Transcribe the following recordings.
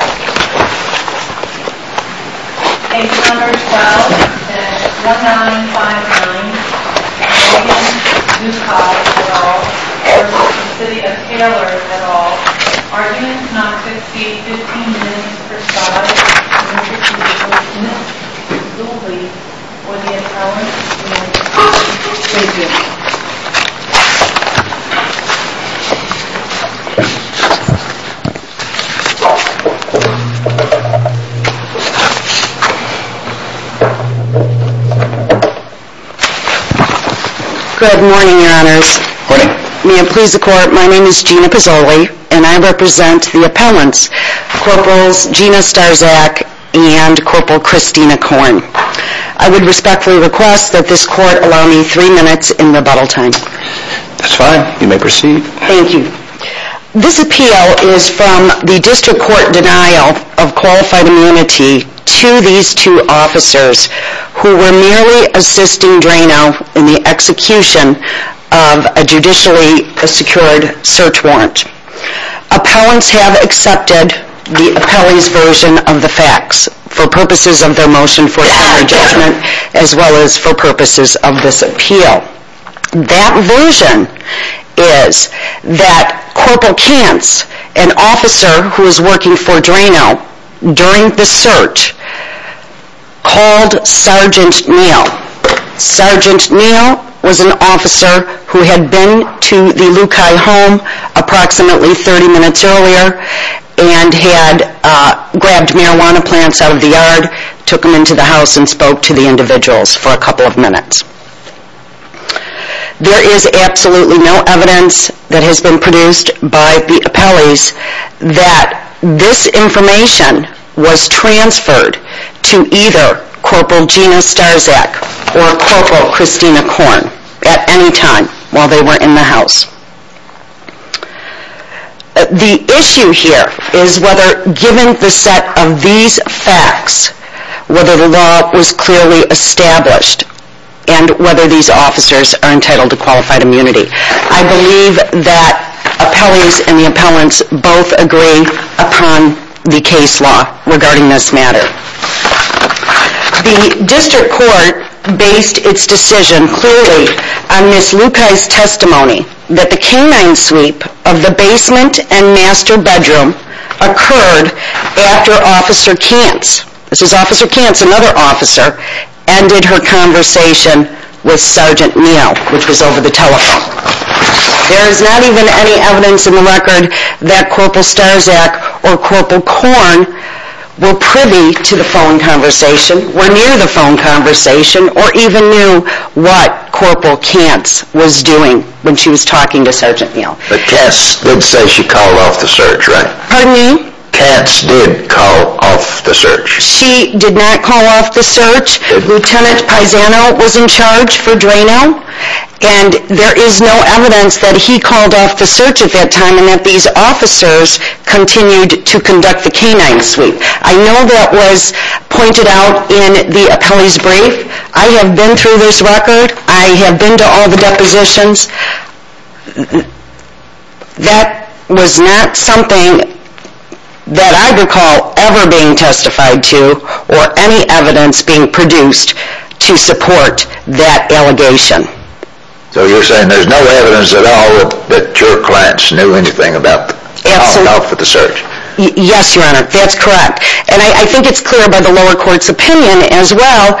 at all. Arguments not to exceed 15 minutes per side. Good morning, your honors. May it please the court, my name is Gina Pizzoli and I represent the appellants, Corporals Gina Starczak and Corporal Christina Korn. I respectfully request that this court allow me three minutes in rebuttal time. This appeal is from the district court denial of qualified immunity to these two officers who were merely assisting Drano in the execution of a judicially secured search warrant. Appellants have accepted the appellee's version of the facts for purposes of their motion for a jury judgment as well as for purposes of this appeal. That version is that Corporal Kantz, an officer who was working for Drano during the search, called Sergeant Neal. Sergeant and had grabbed marijuana plants out of the yard, took them into the house and spoke to the individuals for a couple of minutes. There is absolutely no evidence that has been produced by the appellees that this information was transferred to either Corporal Gina Starczak or Corporal Christina Korn at any time while they were in the house. The issue here is whether given the set of these facts, whether the law was clearly established and whether these officers are entitled to qualified immunity. I believe that appellees and the appellants both agree upon the case law regarding this matter. The district court based its decision clearly on Ms. Lukaj's testimony that the canine sweep of the basement and master bedroom occurred after Officer Kantz, this is Officer Kantz, another officer, ended her conversation with Sergeant Neal, which was over the telephone. There is not even any evidence in the record that Corporal Starczak or Corporal Korn were privy to the phone conversation, were near the phone conversation, or even knew what Corporal Kantz was doing when she was talking to Sergeant Neal. But Kantz did say she called off the search, right? Pardon me? Kantz did call off the search. She did not call off the search. Lieutenant Paisano was in charge for Drano and there is no evidence that he called off the search at that time and that these officers continued to conduct the canine sweep. I know that was pointed out in the appellee's brief. I have been through this record. I have been to all the depositions. That was not something that I recall ever being testified to or any evidence being produced to support that allegation. So you're saying there's no evidence at all that your clients knew anything about calling off the search? Yes, Your Honor. That's correct. And I think it's clear by the lower court's opinion as well.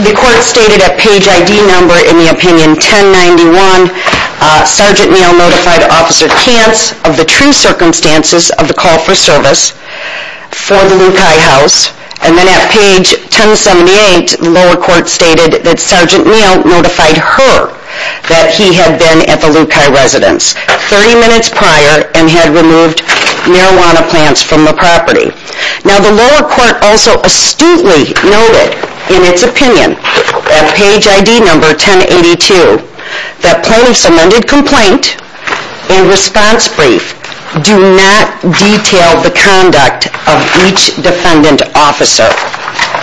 The court stated at page ID number, in the opinion 1091, Sergeant Neal notified Officer Kantz of the true circumstances of the call for service for the Luke High House. And then at page 1078, the lower court stated that Sergeant Neal notified her that he had been at the Luke High residence 30 minutes prior and had removed marijuana plants from the property. Now the lower court also astutely noted in its opinion at page ID number 1082 that plaintiff's amended complaint and response brief do not detail the conduct of each defendant officer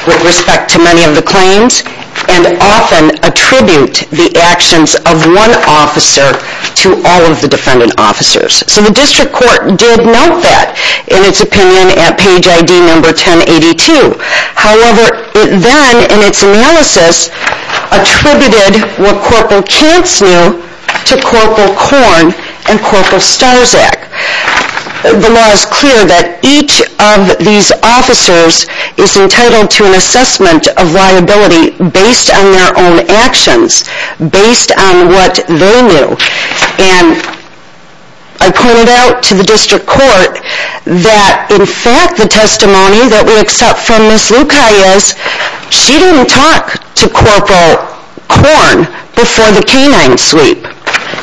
with respect to many of the claims and often attribute the actions of one officer to all of the defendant officers. So the district court did note that in its opinion at page ID number 1082. However, it then in its analysis attributed what Corporal Kantz knew to Corporal Korn and Corporal Starzak. The law is clear that each of these officers is entitled to a testimony. And I pointed out to the district court that in fact the testimony that we accept from Ms. Luke High is she didn't talk to Corporal Korn before the canine sweep.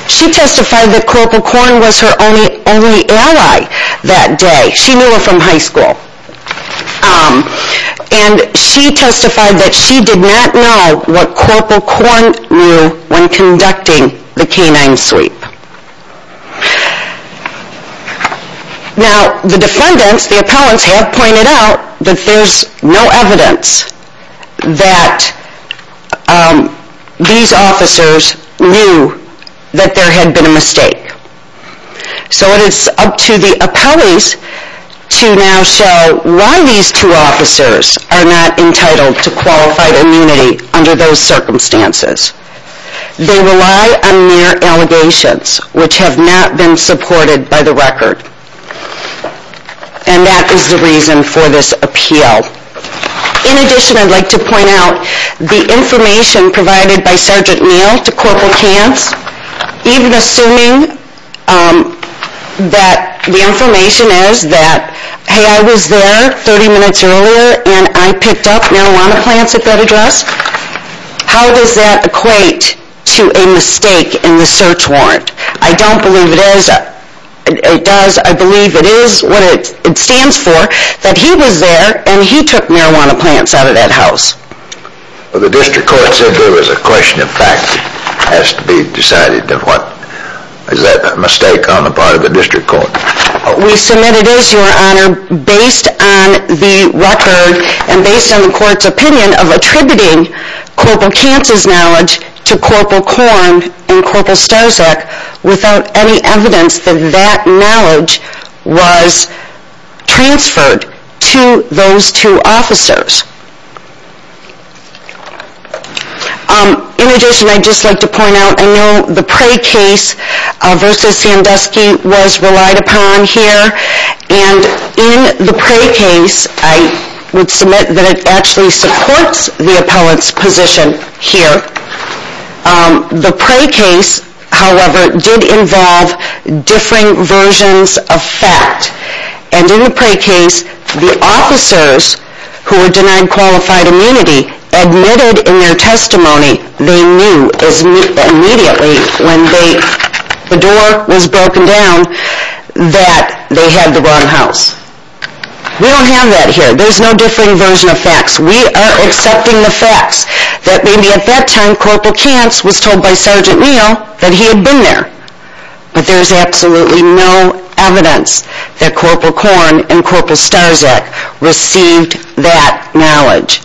She testified that Corporal Korn was her only ally that day. She knew her from high school. And she testified that she did not know what Corporal Korn knew when conducting the canine sweep. Now the defendants, the appellants, have pointed out that there's no evidence that these officers knew that there had been a mistake. So it is up to the appellees to now show why these two officers are not entitled to qualified immunity under those circumstances. They rely on their allegations which have not been supported by the record. And that is the reason for this appeal. In addition, I'd like to point out the information provided by Sergeant Neal to Corporal Kantz, even assuming that the information is that, hey I was there 30 minutes earlier and I picked up marijuana plants at that address. How does that equate to a mistake in the search warrant? I don't believe it is, it does, I believe it is what it stands for that he was there and he took marijuana plants out of that house. The district court said there was a question of fact that has to be decided. Is that a mistake on the part of the district court? We submit it is, Your Honor, based on the record and based on the court's opinion of attributing Corporal Kantz's knowledge to Corporal Korn and Corporal Starczyk without any evidence that that knowledge was transferred to those two officers. In addition, I'd just like to point out, I know the Prey case versus Sandusky was relied upon here and in the Prey case, I would submit that it actually supports the appellant's position here. The Prey case, however, did involve differing versions of fact. And in the Prey case, the officers who were denied qualified immunity admitted in their testimony they knew immediately when the door was broken down that they had the wrong house. We don't have that here. There's no differing version of facts. We are accepting the facts that maybe at that time Corporal Kantz was told by Sergeant Neal that he had been there. But there's absolutely no evidence that Corporal Korn and Corporal Starczyk received that knowledge.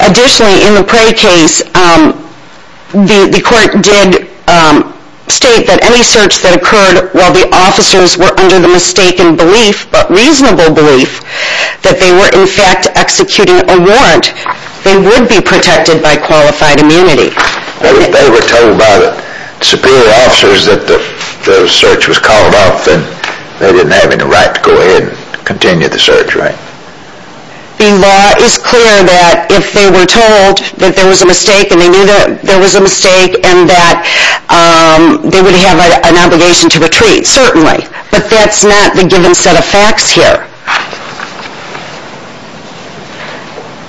Additionally, in the Prey case, the court did state that any search that occurred while the officers were under the mistaken belief, but reasonable belief, that they were in fact executing a warrant, they would be protected by qualified immunity. They were told by the superior officers that the search was called off and they didn't have any right to go ahead and continue the search, right? The law is clear that if they were told that there was a mistake and they knew there was a mistake and that they would have an obligation to retreat, certainly. But that's not the given set of facts here.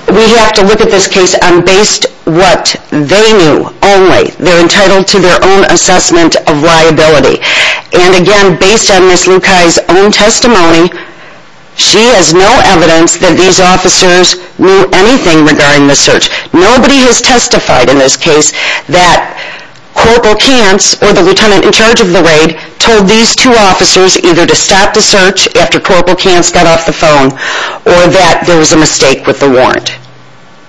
We have to look at this case on based on what they knew and what they knew only. They're entitled to their own assessment of liability. And again, based on Ms. Lukai's own testimony, she has no evidence that these officers knew anything regarding the search. Nobody has testified in this case that Corporal Kantz or the lieutenant in charge of the raid told these two officers either to stop the search after Corporal Kantz got off the phone or that there was a mistake with the warrant.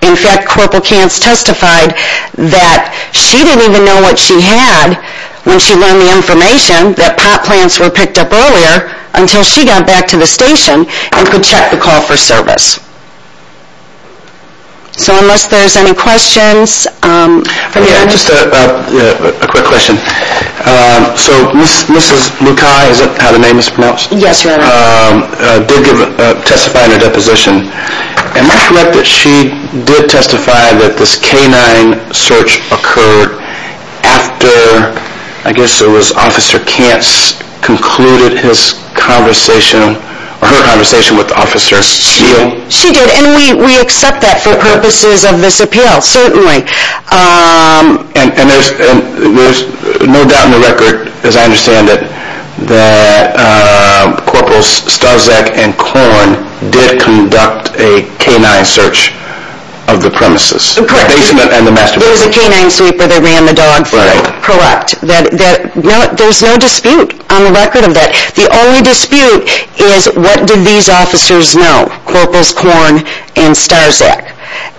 In fact, Corporal Kantz testified that she didn't even know what she had when she learned the information, that pot plants were picked up earlier, until she got back to the station and could check the call for service. So unless there's any questions... Just a quick question. So Ms. Lukai, is that how the name is pronounced? Yes, Your Honor. Ms. Lukai did testify in a deposition. Am I correct that she did testify that this K-9 search occurred after, I guess it was Officer Kantz concluded his conversation, or her conversation with Officer Seale? She did. And we accept that for purposes of this appeal, certainly. And there's no doubt in the record, as I understand it, that Corporals Starczak and Korn did conduct a K-9 search of the premises, the basement and the master bedroom. There was a K-9 sweeper that ran the dog food, correct. There's no dispute on the record of that. The only dispute is what did these officers know, Corporals Korn and Starczak?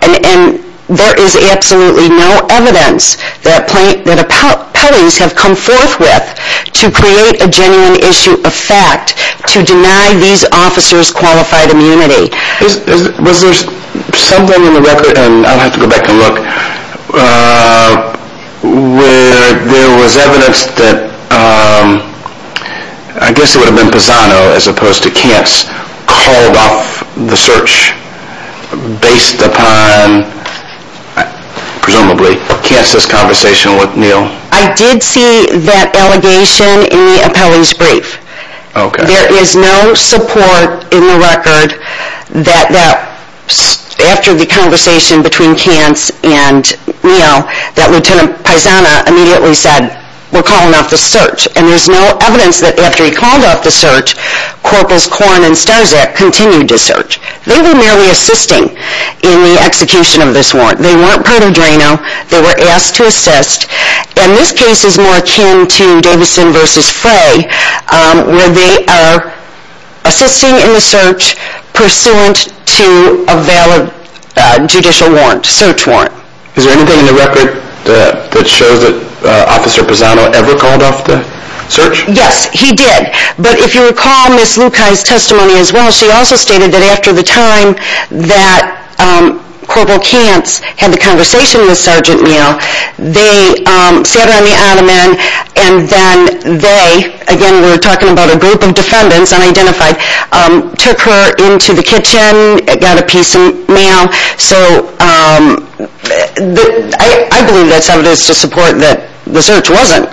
And there is absolutely no evidence that a police have come forth with to create a genuine issue of fact to deny these officers qualified immunity. Was there something in the record, and I'll have to go back and look, where there was evidence that, I guess it would have been Pisano as opposed to Kantz called off the search based upon, presumably, Kantz's conversation with Neal? I did see that allegation in the appellee's brief. Okay. There is no support in the record that after the conversation between Kantz and Neal, that Lieutenant Pisano immediately said, we're calling off the search. And there's no evidence that after he called off the search, Corporals Korn and Starczak continued to search. They were merely assisting in the execution of this warrant. They weren't part of Drano. They were asked to assist. And this case is more akin to Davison versus Frey, where they are assisting in the search pursuant to a valid judicial warrant, search warrant. Is there anything in the record that shows that Officer Pisano ever called off the search? Yes, he did. But if you recall Ms. Lukaj's testimony as well, she also stated that after the time that Corporal Kantz had the conversation with Sergeant Neal, they sat her on the ottoman and then they, again we're talking about a group of defendants, unidentified, took her into the kitchen, got a piece of mail. So I believe that's evidence to support that the search wasn't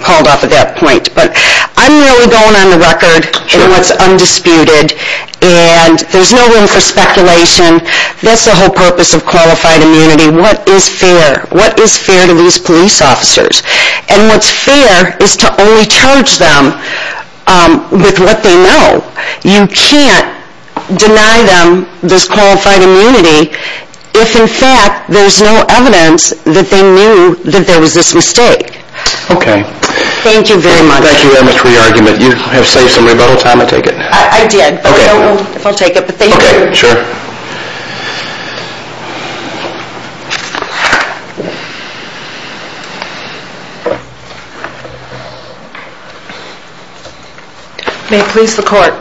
called off at that point. But I'm really going on the record in what's undisputed. And there's no room for speculation. That's the whole purpose of qualified immunity. What is fair? What is fair to these police officers? And what's fair is to only charge them with what they know. You can't deny them this qualified immunity if in fact there's no evidence that they knew that there was this mistake. Okay. Thank you very much. Thank you very much for your argument. You have saved some rebuttal time, I take it. I did. Okay. I don't know if I'll take it, but thank you. Okay, sure. May it please the court.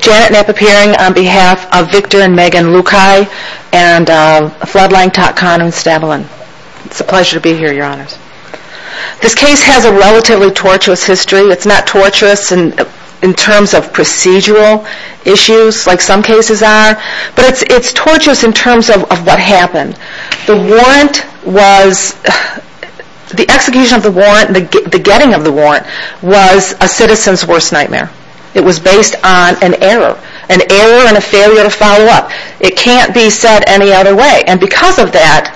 Janet Knapp appearing on behalf of Victor and Megan Lukai and Floodline Tatkan and Stavalin. It's a pleasure to be here, your honors. This case has a relatively torturous history. It's not torturous in terms of procedural issues like some cases are, but it's torturous in terms of what happened. The warrant was, the execution of the warrant, the getting of the warrant was a citizen's worst nightmare. It was based on an error. An error and a failure to follow up. It can't be said any other way. And because of that,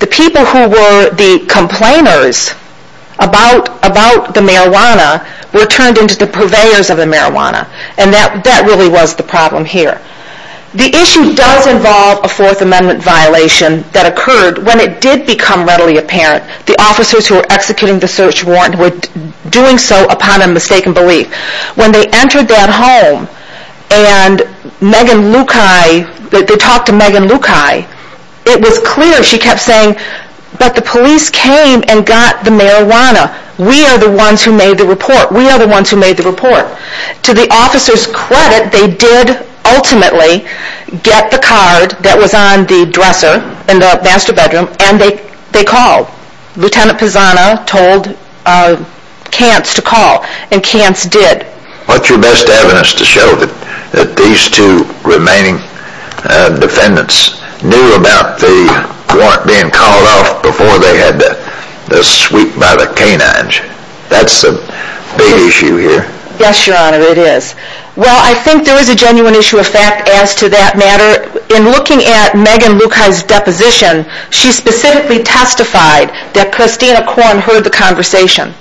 the people who were the complainers about the marijuana were turned into the purveyors of the marijuana. And that really was the problem here. The issue does involve a Fourth Amendment violation that occurred when it did become readily apparent the officers who were executing the search warrant were doing so upon a mistaken belief. When they entered that home and Megan Lukai, they talked to Megan Lukai, it was clear she came and got the marijuana. We are the ones who made the report. We are the ones who made the report. To the officers' credit, they did ultimately get the card that was on the dresser in the master bedroom and they called. Lieutenant Pisano told Cants to call and Cants did. What's your best evidence to show that these two remaining defendants knew about the warrant being called off before they had the sweep by the canines? That's the big issue here. Yes, Your Honor, it is. Well, I think there is a genuine issue of fact as to that matter. In looking at Megan Lukai's deposition, she specifically testified that Christina Korn heard the conversation.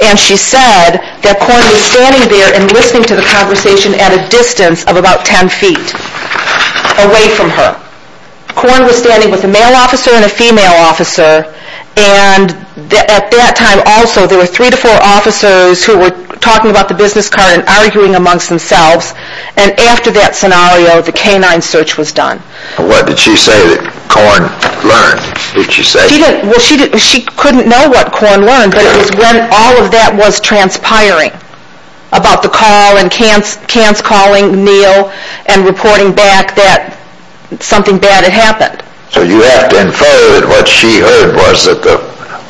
And she said that Korn was standing there and listening to the conversation at a distance of about 10 feet away from her. Korn was standing with a male officer and a female officer and at that time also there were three to four officers who were talking about the business card and arguing amongst themselves and after that scenario the canine search was done. What did she say that Korn learned? She couldn't know what Korn learned but it was when all of that was transpiring about the call and Cants calling Neal and reporting back that something bad had happened. So you have to infer that what she heard was that the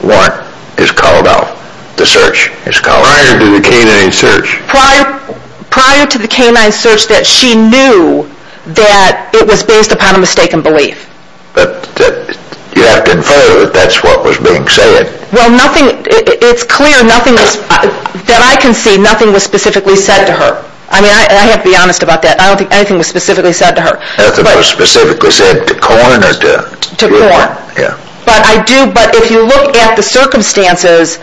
warrant is called off, the search is called off. Prior to the canine search. Prior to the canine search that she knew that it was based upon a mistaken belief. You have to infer that that's what was being said. Well nothing, it's clear that I can see nothing was specifically said to her. I mean I have to be honest about that. I don't think anything was specifically said to her. Nothing was specifically said to Korn? To Korn. Yeah. But I do, but if you look at the circumstances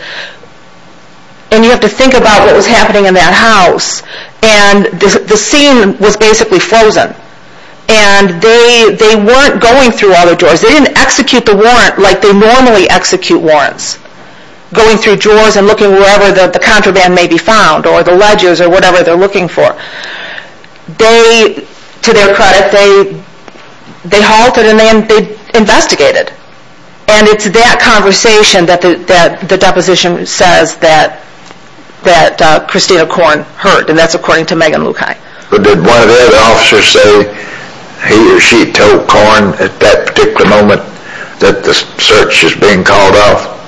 and you have to think about what was happening in that house and the scene was basically frozen and they weren't going through all of the warrants, going through drawers and looking wherever the contraband may be found or the ledgers or whatever they're looking for. They, to their credit, they halted and they investigated. And it's that conversation that the deposition says that Christina Korn heard. And that's according to Megan Lukai. Did one of the other officers say he or she told Korn at that particular moment that the search is being called off?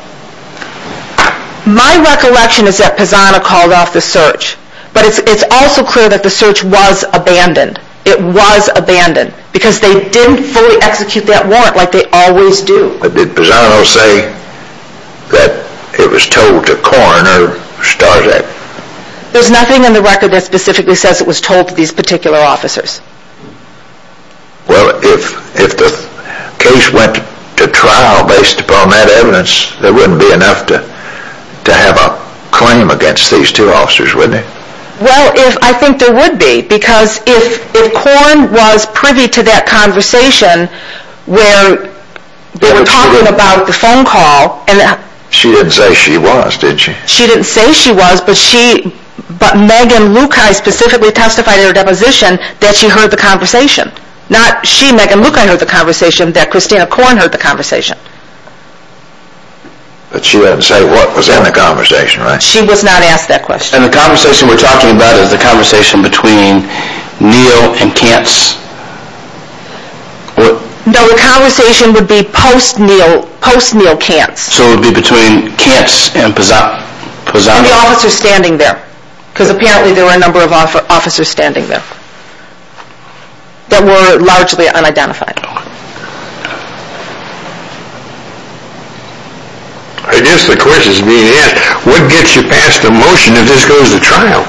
My recollection is that Pisano called off the search. But it's also clear that the search was abandoned. It was abandoned. Because they didn't fully execute that warrant like they always do. But did Pisano say that it was told to Korn or Starzak? There's nothing in the record that specifically says it was told to these particular officers. Well, if the case went to trial based upon that evidence, there wouldn't be enough to have a claim against these two officers, would there? Well, I think there would be. Because if Korn was privy to that conversation where they were talking about the phone call She didn't say she was, did she? She didn't say she was, but Megan Lukai specifically testified in her deposition that she heard the conversation. Not she, Megan Lukai heard the conversation. That Christina Korn heard the conversation. But she wouldn't say what was in the conversation, right? She was not asked that question. And the conversation we're talking about is the conversation between Neal and Kantz? No, the conversation would be post-Neal, post-Neal Kantz. So it would be between Kantz and Pisano? And the officers standing there. Because apparently there were a number of officers standing there. That were largely unidentified. I guess the question is being asked, what gets you past the motion if this goes to trial?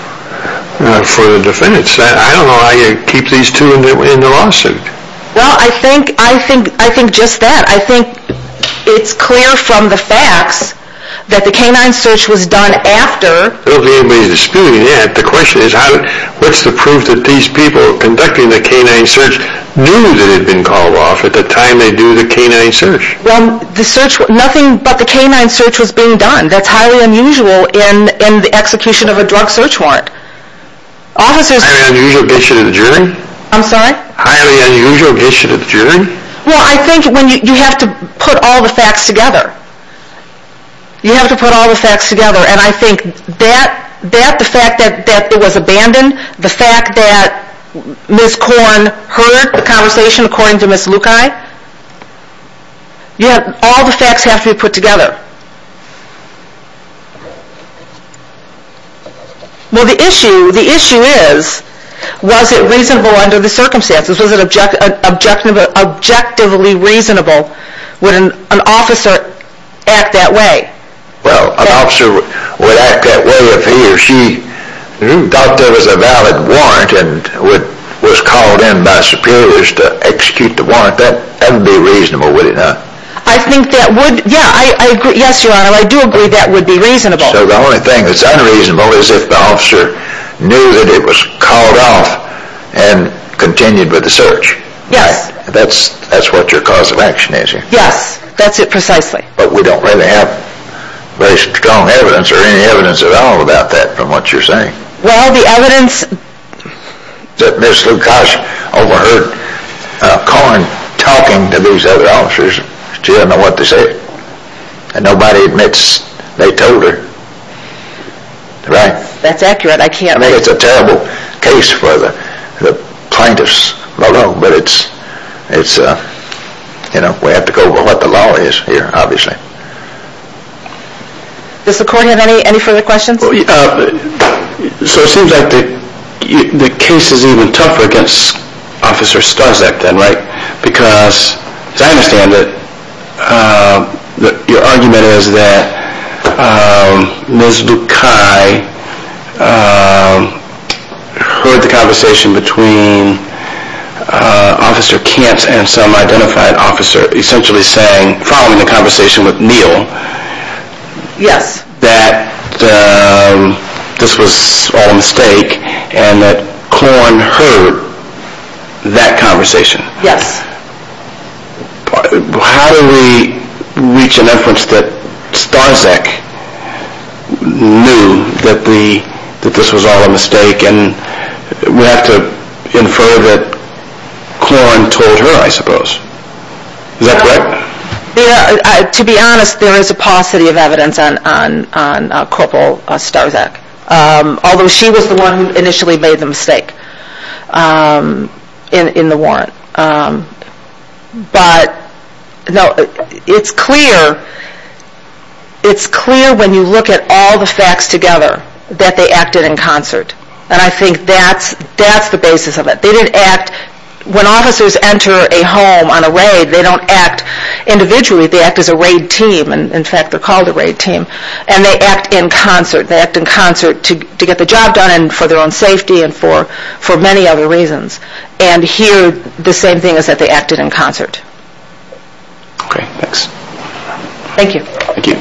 For the defense. I don't know how you keep these two in the lawsuit. Well, I think just that. I think it's clear from the facts that the K-9 search was done after. I don't think anybody's disputing that. The question is, what's the proof that these people conducting the K-9 search knew that it had been called off at the time they do the K-9 search? Well, the search, nothing but the K-9 search was being done. That's highly unusual in the execution of a drug search warrant. Highly unusual gets you to the jury? I'm sorry? Highly unusual gets you to the jury? Well, I think you have to put all the facts together. You have to put all the facts together. And I think that, the fact that it was abandoned. The fact that Ms. Korn heard the conversation according to Ms. Lukai. All the facts have to be put together. Well, the issue is, was it reasonable under the circumstances? Was it objectively reasonable? Would an officer act that way? Well, an officer would act that way if he or she thought there was a valid warrant and was called in by superiors to execute the warrant. That would be reasonable, wouldn't it not? I think that would, yeah. Yes, Your Honor, I do agree that would be reasonable. So the only thing that's unreasonable is if the officer knew that it was called off and continued with the search. Yes. That's what your cause of action is. Yes, that's it precisely. But we don't really have very strong evidence or any evidence at all about that from what you're saying. Well, the evidence... That Ms. Lukai overheard Korn talking to these other officers. She doesn't know what to say. And nobody admits they told her. That's accurate. I can't... I can't say it's a terrible case for the plaintiffs alone. But it's, you know, we have to go with what the law is here, obviously. Does the court have any further questions? So it seems like the case is even tougher against Officer Strzak then, right? Because as I understand it, your argument is that Ms. Lukai heard the conversation between Officer Kent and some identified officer essentially saying, following the conversation with Neal, Yes. that this was all a mistake and that Korn heard that conversation. Yes. How do we reach an inference that Strzak knew that this was all a mistake and we have to infer that Korn told her, I suppose. Is that correct? To be honest, there is a paucity of evidence on Corporal Strzak. Although she was the one who initially made the mistake in the warrant. But it's clear when you look at all the facts together that they acted in concert. And I think that's the basis of it. They didn't act... When officers enter a home on a raid, they don't act individually. They act as a raid team. In fact, they're called a raid team. And they act in concert. They act in concert to get the job done and for their own safety and for many other reasons. And here, the same thing is that they acted in concert. Okay. Thanks. Thank you.